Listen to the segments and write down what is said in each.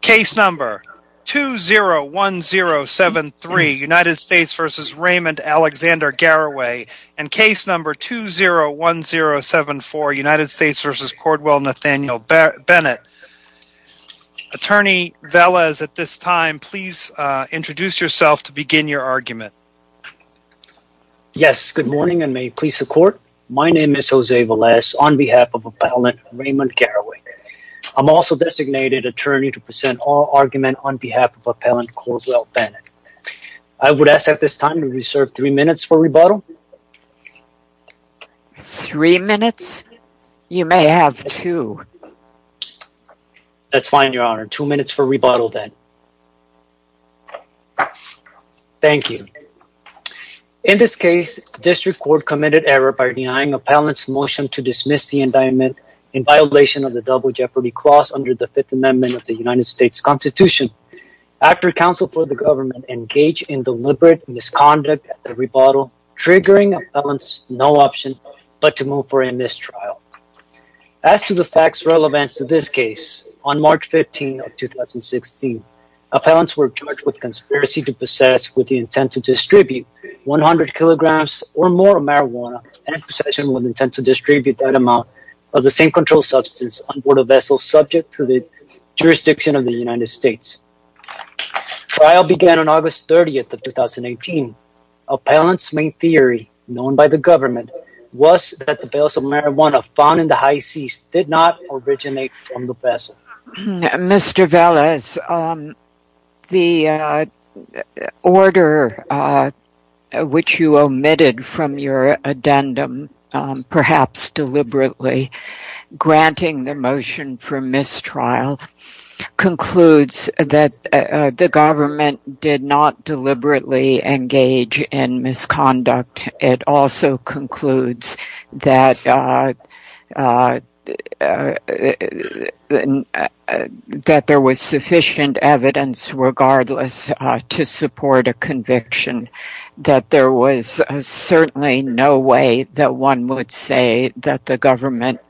Case number 201073, United States v. Raymond Alexander Garraway, and case number 201074, United States v. Cordwell Nathaniel Bennett. Attorney Velez, at this time, please introduce yourself to begin your argument. Yes, good morning and may it please the court. My name is Jose Velez on behalf of Appellant Raymond Garraway. I'm also designated attorney to present our argument on behalf of Appellant Cordwell Bennett. I would ask at this time to reserve three minutes for rebuttal. Three minutes? You may have two. That's fine, Your Honor. Two minutes for rebuttal then. Thank you. In this case, District Court committed error by denying Appellant's motion to dismiss the indictment in violation of the Double Jeopardy Clause under the Fifth Amendment of the United States Constitution after counsel for the government engaged in deliberate misconduct at the rebuttal, triggering Appellant's no option but to move for a mistrial. As to the facts relevant to this case, on March 15, 2016, Appellants were charged with conspiracy to possess with the intent to distribute 100 kilograms or more of marijuana and possession with intent to distribute that amount of the same controlled substance on board a vessel subject to the jurisdiction of the United States. Trial began on August 30th of 2018. Appellant's main theory, known by the government, was that the barrels of marijuana found in the high seas did not originate from the vessel. Mr. Velez, the order which you omitted from your addendum perhaps deliberately, granting the motion for mistrial, concludes that the government did not deliberately engage in misconduct. It also concludes that there was sufficient evidence regardless to support a conviction, that there was certainly no way that one would say that the government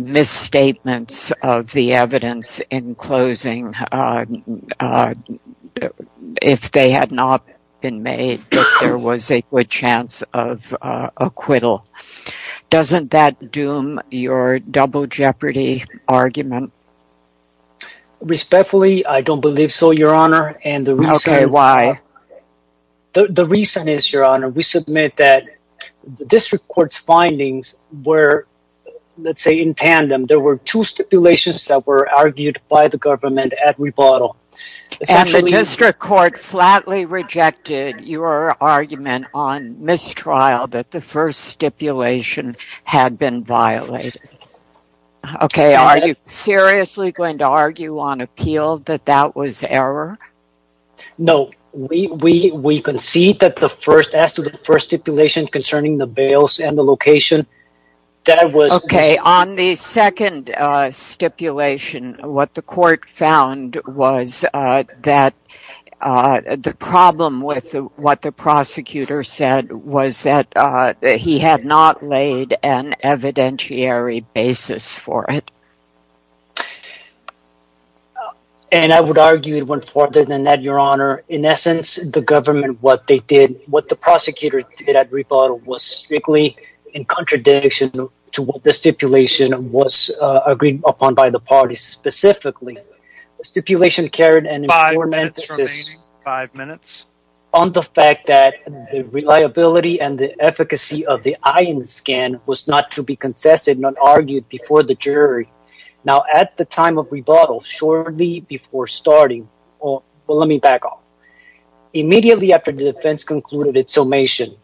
misstatements of the evidence in closing, if they had not been made, that there were two stipulations that were argued by the government at rebuttal. And the district court flatly rejected your argument on mistrial that the first stipulation had been violated. Okay, are you seriously going to argue on appeal that that was error? No, we concede that the first, as to the first stipulation concerning the bales and the location, that was... Okay, on the second stipulation, what the court found was that the problem with what the prosecutor said was that he had not laid an evidentiary basis for it. And I would argue it went further than that, Your Honor. In essence, the government, what they did, what the prosecutor did at rebuttal, was strictly in contradiction to what the stipulation was agreed upon by the parties specifically. The stipulation carried an important emphasis... The fact that the reliability and the efficacy of the eye scan was not to be contested, not argued before the jury. Now, at the time of rebuttal, shortly before starting... Well, let me back up. Immediately after the defense concluded its summation,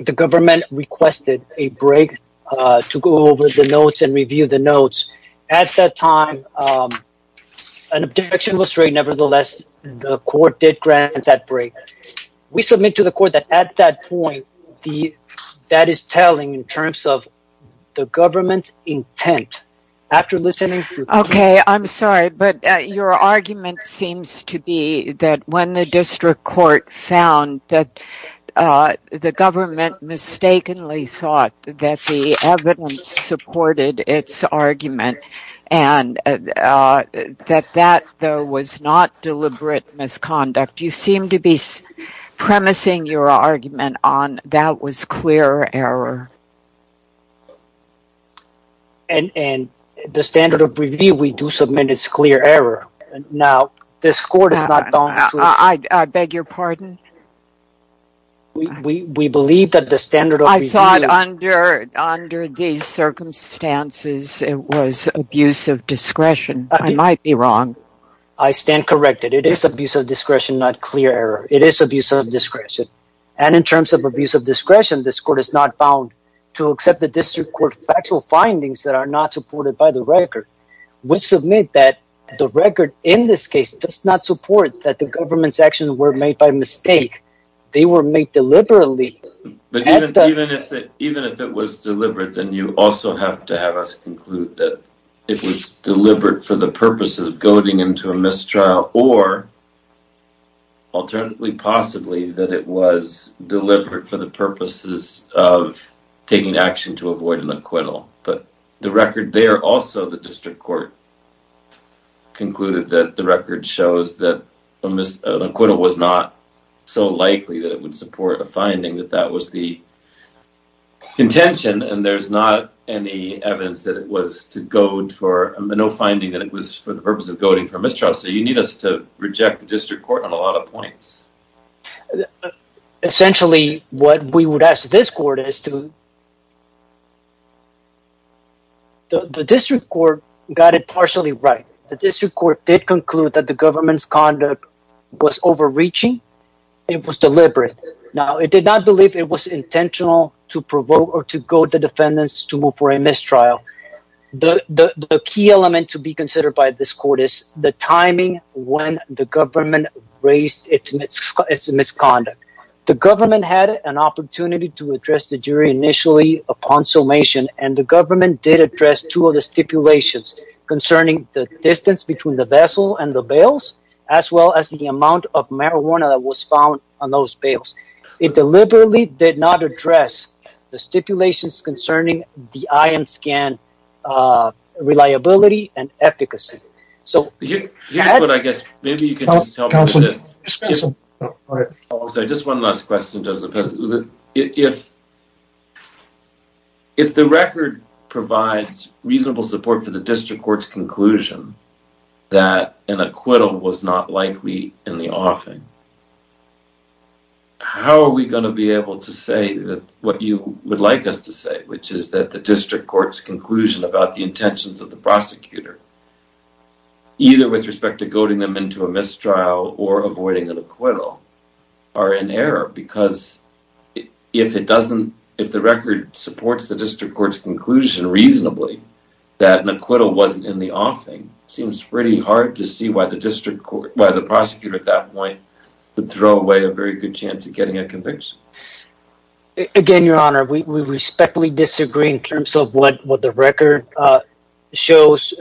the government requested a break to go over the notes and review the notes. At that time, an objection was straightened. Nevertheless, the court did grant that break. We submit to the court that at that point, that is telling in terms of the government's intent. After listening... Okay, I'm sorry, but your argument seems to be that when the district court found that the government mistakenly thought that the evidence supported its argument and that that, though, was not deliberate misconduct. You seem to be premising your argument on that was clear error. And the standard of review, we do submit it's clear error. Now, this court is not going to... I beg your pardon? We believe that the standard of... I thought under these circumstances, it was abuse of discretion. I might be wrong. I stand corrected. It is abuse of discretion, not clear error. It is abuse of discretion. And in terms of abuse of discretion, this court is not bound to accept the district court factual findings that are not supported by the record. We submit that the record in this case does not support that the government's actions were made by mistake. They were made deliberately. Even if it was deliberate, then you also have to have us conclude that it was deliberate for the purposes of goading into a mistrial or alternately possibly that it was deliberate for the purposes of taking action to avoid an acquittal. But the record there, also the district court concluded that the record shows that an acquittal was not so likely that it would support a finding that that was the contention. And there's not any evidence that it was to goad for no finding that it was for the purpose of goading for mistrial. So you need us to reject the district court on a lot of points. But essentially what we would ask this court is to the district court got it partially right. The district court did conclude that the government's conduct was overreaching. It was deliberate. Now it did not believe it was intentional to provoke or to goad the defendants to move for a mistrial. The key element to be considered by this court is the timing when the government raised its misconduct. The government had an opportunity to address the jury initially upon summation, and the government did address two of the stipulations concerning the distance between the vessel and the bales, as well as the amount of marijuana that was found on those bales. It deliberately did not address the stipulations concerning the eye and scan reliability and efficacy. So here's what I guess, maybe you can tell me this. Just one last question. If the record provides reasonable support for the district court's conclusion that an acquittal was not likely in the offing, how are we going to be able to say what you would like us to say, which is that the district court's conclusion about the intentions of the prosecutor, either with respect to goading them into a mistrial or avoiding an acquittal, are in error? Because if the record supports the district court's conclusion reasonably that an acquittal wasn't in the offing, it seems pretty hard to see why the prosecutor at that Again, your honor, we respectfully disagree in terms of what the record shows.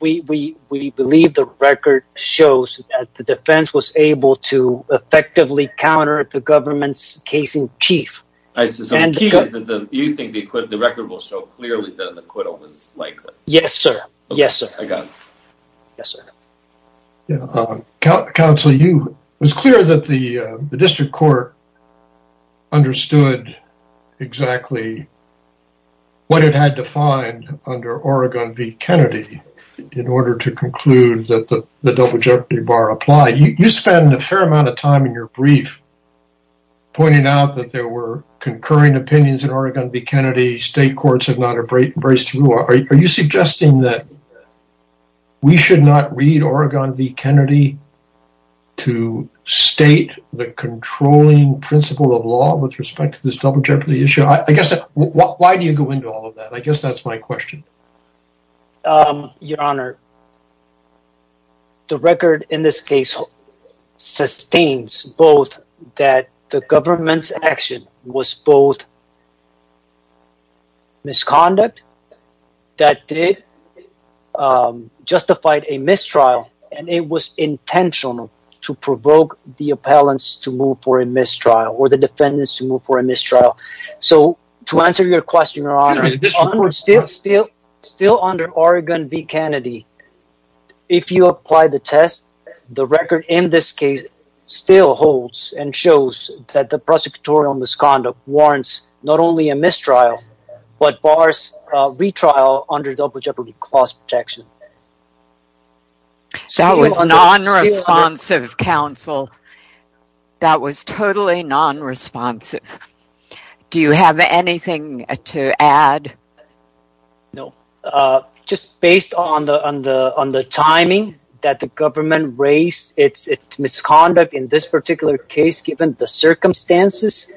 We believe the record shows that the defense was able to effectively counter the government's case in chief. So the key is that you think the record will show clearly that an acquittal was likely? Yes, sir. Yes, sir. I got it. Yes, sir. Yeah. Counsel, it was clear that the district court understood exactly what it had to find under Oregon v. Kennedy in order to conclude that the double jeopardy bar applied. You spend a fair amount of time in your brief pointing out that there were concurring opinions in Oregon v. Kennedy. State courts have not embraced through. Are you suggesting that we should not read Oregon v. Kennedy to state the controlling principle of law with respect to this double jeopardy issue? Why do you go into all of that? I guess that's my question. Your honor, the record in this case sustains both that the government's action was both misconduct that did justify a mistrial and it was intentional to provoke the appellants to move for a mistrial or the defendants to move for a mistrial. So to answer your question, your honor, still under Oregon v. Kennedy, if you apply the test, the record in this case still holds and prosecutorial misconduct warrants not only a mistrial but bars retrial under double jeopardy clause protection. That was non-responsive, counsel. That was totally non-responsive. Do you have anything to add? No. Just based on the timing that the government raised its misconduct in this particular case, given the circumstances,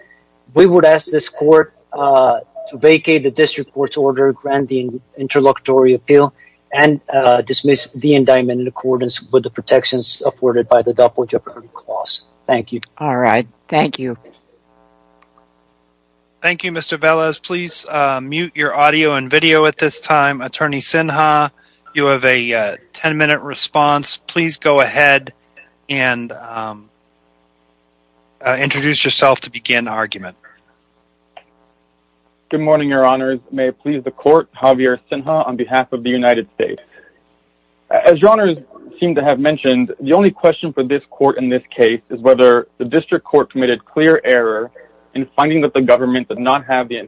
we would ask this court to vacate the district court's order, grant the interlocutory appeal, and dismiss the indictment in accordance with the protections afforded by the double jeopardy clause. Thank you. All right. Thank you. Thank you, Mr. Velez. Please mute your audio and video at this time. Attorney Sinha, you have a 10-minute response. Please go ahead and introduce yourself to begin the argument. Good morning, your honors. May it please the court, Javier Sinha on behalf of the United States. As your honors seem to have mentioned, the only question for this court in this case is whether the district court committed clear error in finding that the government did not have the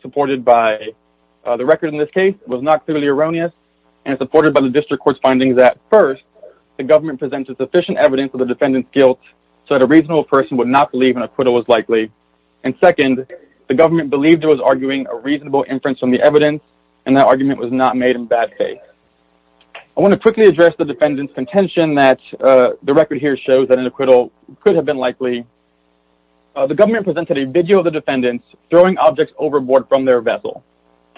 supported by the record in this case was not clearly erroneous and supported by the district court's findings that first, the government presented sufficient evidence of the defendant's guilt so that a reasonable person would not believe an acquittal was likely. And second, the government believed it was arguing a reasonable inference from the evidence, and that argument was not made in bad faith. I want to quickly address the defendant's contention that the record here shows that an acquittal could have been likely. The government presented a video of the defendants throwing objects overboard from their vessel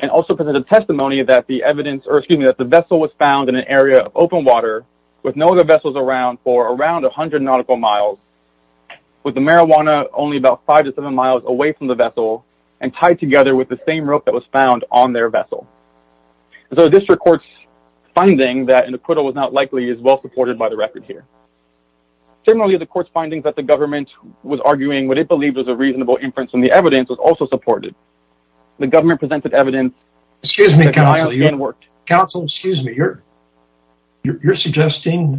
and also presented testimony that the vessel was found in an area of open water with no other vessels around for around 100 nautical miles with the marijuana only about five to seven miles away from the vessel and tied together with the same rope that was found on their vessel. So the district court's finding that an acquittal was not likely is well supported by the record here. Similarly, the court's findings that the government was arguing what it believed was a reasonable inference from the evidence was also supported. The government presented evidence. Excuse me, counsel, you're suggesting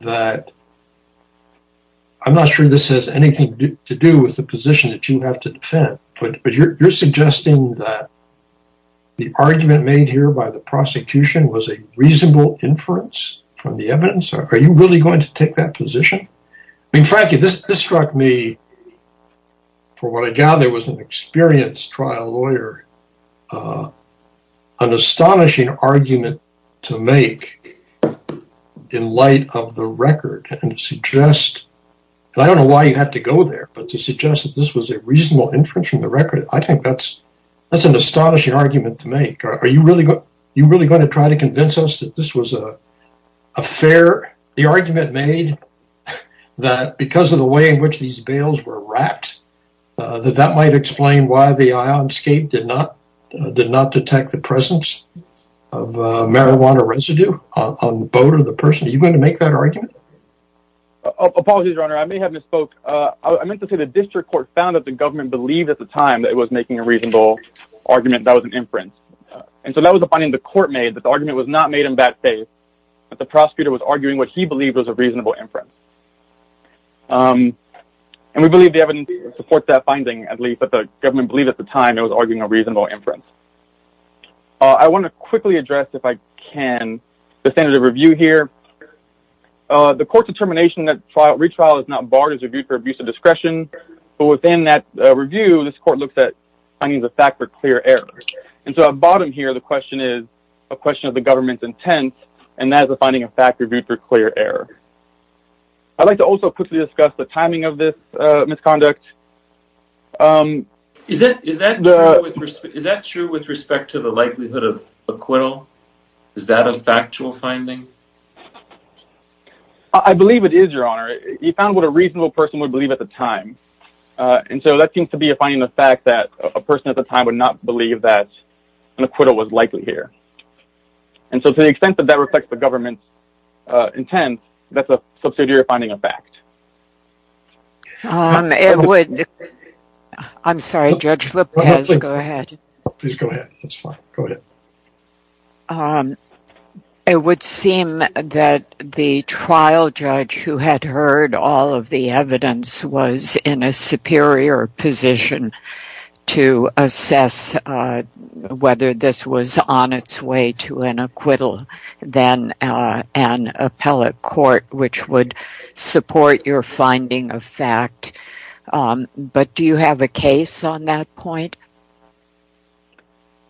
that I'm not sure this has anything to do with the position that you have to defend, but you're suggesting that the argument made here by the prosecution was a reasonable inference from the evidence? Are you really going to take that position? I mean, frankly, this struck me for what I gather was an experienced trial lawyer, an astonishing argument to make in light of the record and to suggest, and I don't know why you have to go there, but to suggest that this was a reasonable inference from the record, I think that's an astonishing argument to make. Are you really going to try to convince us that this was a fair, the argument made that because of the way in which these bails were wrapped, that that might explain why the ionscape did not detect the presence of marijuana residue on the boat or the person? Are you going to make that argument? Apologies, your honor, I may have misspoke. I meant to say the district court found that the government believed at the time that it was making a reasonable argument that was an inference. And so that was a finding the court made that the argument was not made in bad faith, but the prosecutor was arguing what he believed was a reasonable inference. And we believe the evidence supports that finding, at least, that the government believed at the time it was arguing a reasonable inference. I want to quickly address, if I can, the standard of review here. The court's determination that retrial is not barred is reviewed for abuse of discretion, but within that review, this court looks at finding the fact for clear error. And so at the bottom here, the question is a question of the government's intent, and that is a finding of fact reviewed for clear error. I'd like to also quickly discuss the timing of this misconduct. Is that true with respect to the likelihood of acquittal? Is that a factual finding? I believe it is, your honor. He found what a reasonable person would believe at the time. And so that seems to be a finding of fact that a person at the time would not believe that an acquittal was likely here. And so to the extent that that reflects the government's intent, that's a subsidiary finding of fact. I'm sorry, Judge Lopez. Go ahead. Please go ahead. That's fine. Go ahead. It would seem that the trial judge who had heard all of the evidence was in a superior position to assess whether this was on its way to an acquittal than an appellate court, which would support your finding of fact. But do you have a case on that point?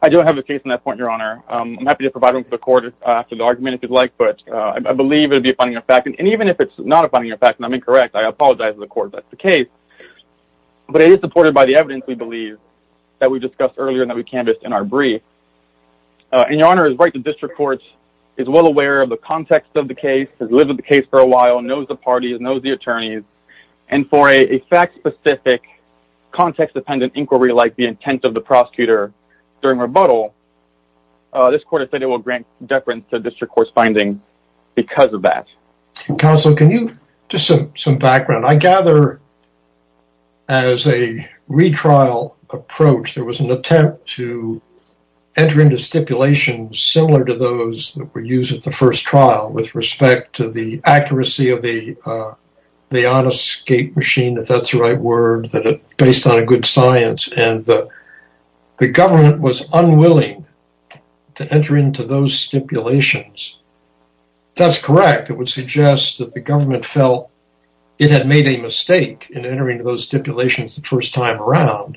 I don't have a case on that point, your honor. I'm happy to provide one for the court after the argument if you'd like, but I believe it would be a finding of fact. And even if it's not a finding of fact, and I'm incorrect, I apologize to the court that's the case. But it is supported by the evidence, we believe, that we discussed earlier that we canvassed in our brief. And your honor is right. The district court is well aware of the context of the case, has lived with the case for a while, knows the parties, knows the attorneys. And for a fact-specific, context-dependent inquiry like the intent of the prosecutor during rebuttal, this court has said it will grant deference to district court's finding because of that. Counsel, can you give some background? I gather as a retrial approach, there was an attempt to enter into stipulations similar to those that accuracy of the honest scape machine, if that's the right word, based on a good science. And the government was unwilling to enter into those stipulations. That's correct. It would suggest that the government felt it had made a mistake in entering those stipulations the first time around,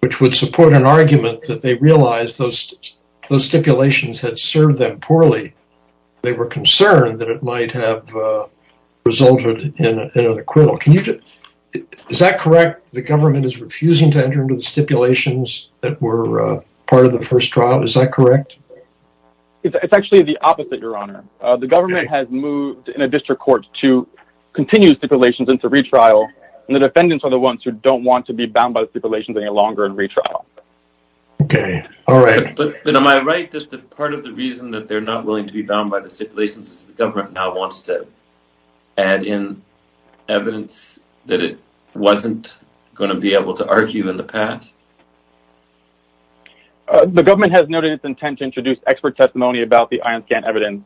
which would support an argument that they realized those stipulations had served them poorly. They were concerned that it might have resulted in an acquittal. Is that correct, the government is refusing to enter into the stipulations that were part of the first trial? Is that correct? It's actually the opposite, your honor. The government has moved in a district court to continue stipulations into retrial, and the defendants are the ones who don't want to be bound by stipulations any longer in retrial. Okay, all right. But am I right that part of the reason that they're not willing to be bound by the stipulations is the government now wants to add in evidence that it wasn't going to be able to argue in the past? The government has noted its intent to introduce expert testimony about the ion scan evidence.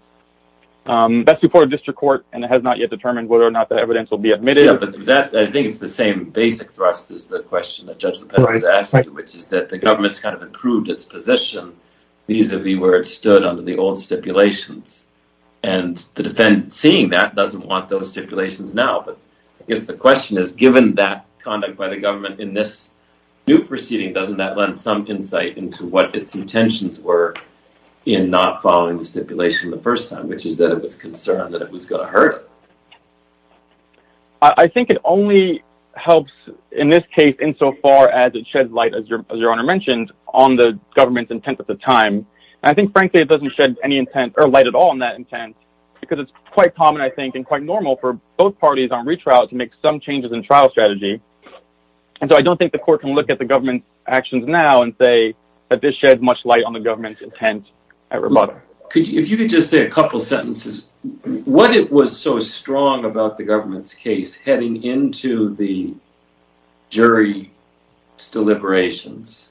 That's before a district court, and it has not yet determined whether or not that evidence will be admitted. Yeah, but that, I think it's the same basic thrust is the question that Judge Lopez has asked, which is that the government's kind of improved its position vis-a-vis where it under the old stipulations, and the defendant seeing that doesn't want those stipulations now. But I guess the question is, given that conduct by the government in this new proceeding, doesn't that lend some insight into what its intentions were in not following the stipulation the first time, which is that it was concerned that it was going to hurt it? I think it only helps in this case insofar as it sheds light, as your honor mentioned, on the government's intent at the time. I think, frankly, it doesn't shed any intent or light at all on that intent, because it's quite common, I think, and quite normal for both parties on retrial to make some changes in trial strategy. And so I don't think the court can look at the government's actions now and say that this sheds much light on the government's intent. If you could just say a couple sentences, what it was so strong about the government's case heading into the jury's deliberations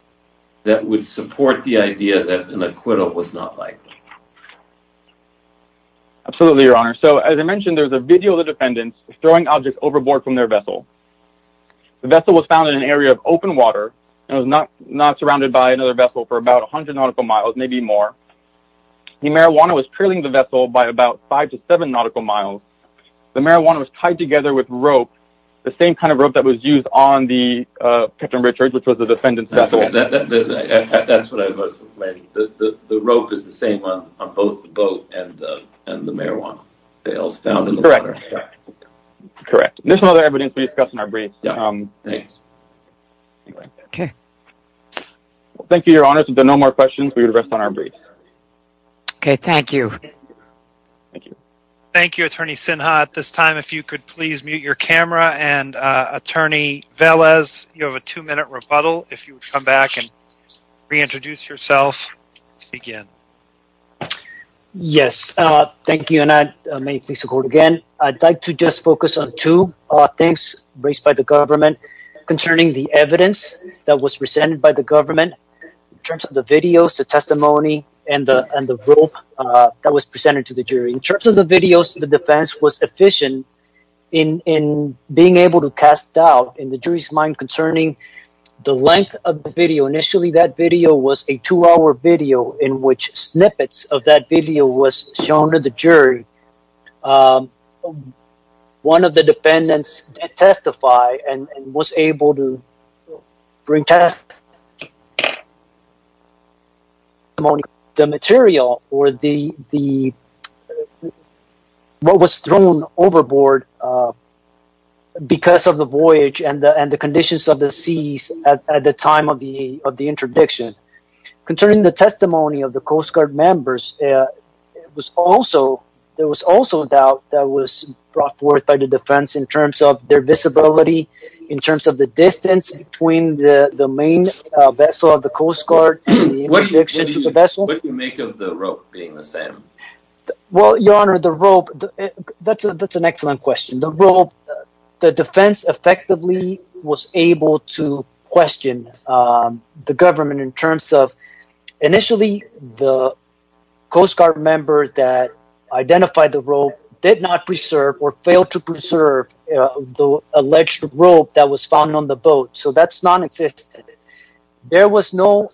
that would support the idea that an acquittal was not likely. Absolutely, your honor. So as I mentioned, there's a video of the defendant throwing objects overboard from their vessel. The vessel was found in an area of open water, and was not surrounded by another vessel for about 100 nautical miles, maybe more. The marijuana was trailing the vessel by about five to seven nautical miles. The marijuana was tied together with rope, the same kind of rope that was used on the Captain Richards, which was the defendant's vessel. That's what I meant. The rope is the same on both the boat and the marijuana. Correct. There's no other evidence we discussed in our brief. Okay. Thank you, your honor. If there are no more questions, we will rest on our brief. Okay, thank you. Thank you. Attorney Sinha, at this time, if you could please mute your camera. And attorney Velez, you have a two-minute rebuttal. If you would come back and reintroduce yourself to begin. Yes, thank you, and I may please record again. I'd like to just focus on two things raised by the government concerning the evidence that was presented by the government in terms of the videos, the testimony, and the rope that was presented to the jury. In terms of the videos, the defense was efficient in being able to cast doubt in the jury's mind concerning the length of the video. Initially, that video was a two-hour video in which snippets of that video was shown to the jury. One of the defendants did testify and was able to bring testimony. The material or what was thrown overboard because of the voyage and the conditions of the seas at the time of the interdiction. Concerning the testimony of the Coast Guard members, there was also doubt that was brought forth by the defense in terms of their visibility, in terms of the distance between the main vessel of the Coast Guard and the interdiction to the vessel. What do you make of the rope being the same? Well, Your Honor, the rope, that's an excellent question. The rope, the defense effectively was able to question the government in terms of initially the Coast Guard members that identified the rope did not preserve or failed to preserve the alleged rope that was found on the boat, so that's non-existent. There was no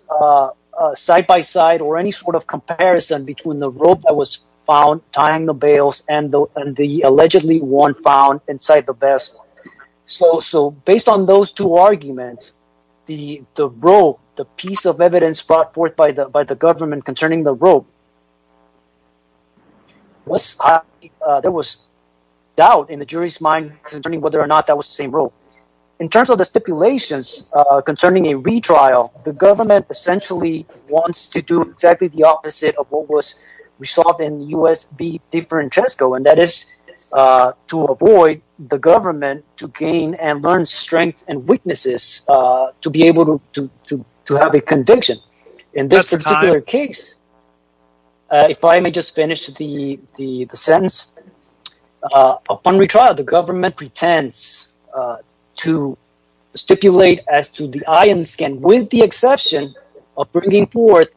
side-by-side or any sort of comparison between the rope that was found tying the bails and the allegedly one found inside the vessel. So, based on those two arguments, the rope, the piece of evidence brought forth by the government concerning the rope, there was doubt in the jury's mind concerning whether or not that was the same rope. In terms of the stipulations concerning a retrial, the government essentially wants to do exactly the opposite of what was resolved in U.S. v. DeFrancesco, and that is to avoid the government to gain and learn strength and weaknesses to be able to have a conviction. In this particular case, if I may just finish the sentence, upon retrial, the government pretends to stipulate as to the ION scan with the exception of bringing forth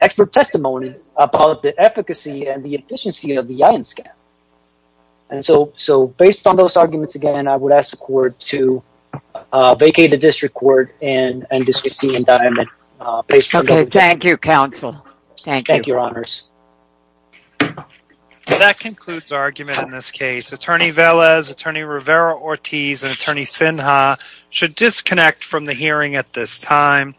expert testimony about the efficacy and the efficiency of the ION scan. And so, based on those arguments, again, I would ask the court to vacate the district court and discuss the indictment. Thank you, counsel. Thank you, your honors. That concludes our argument in this case. Attorney Velez, Attorney Rivera-Ortiz, and Attorney Sinha should disconnect from the hearing at this time.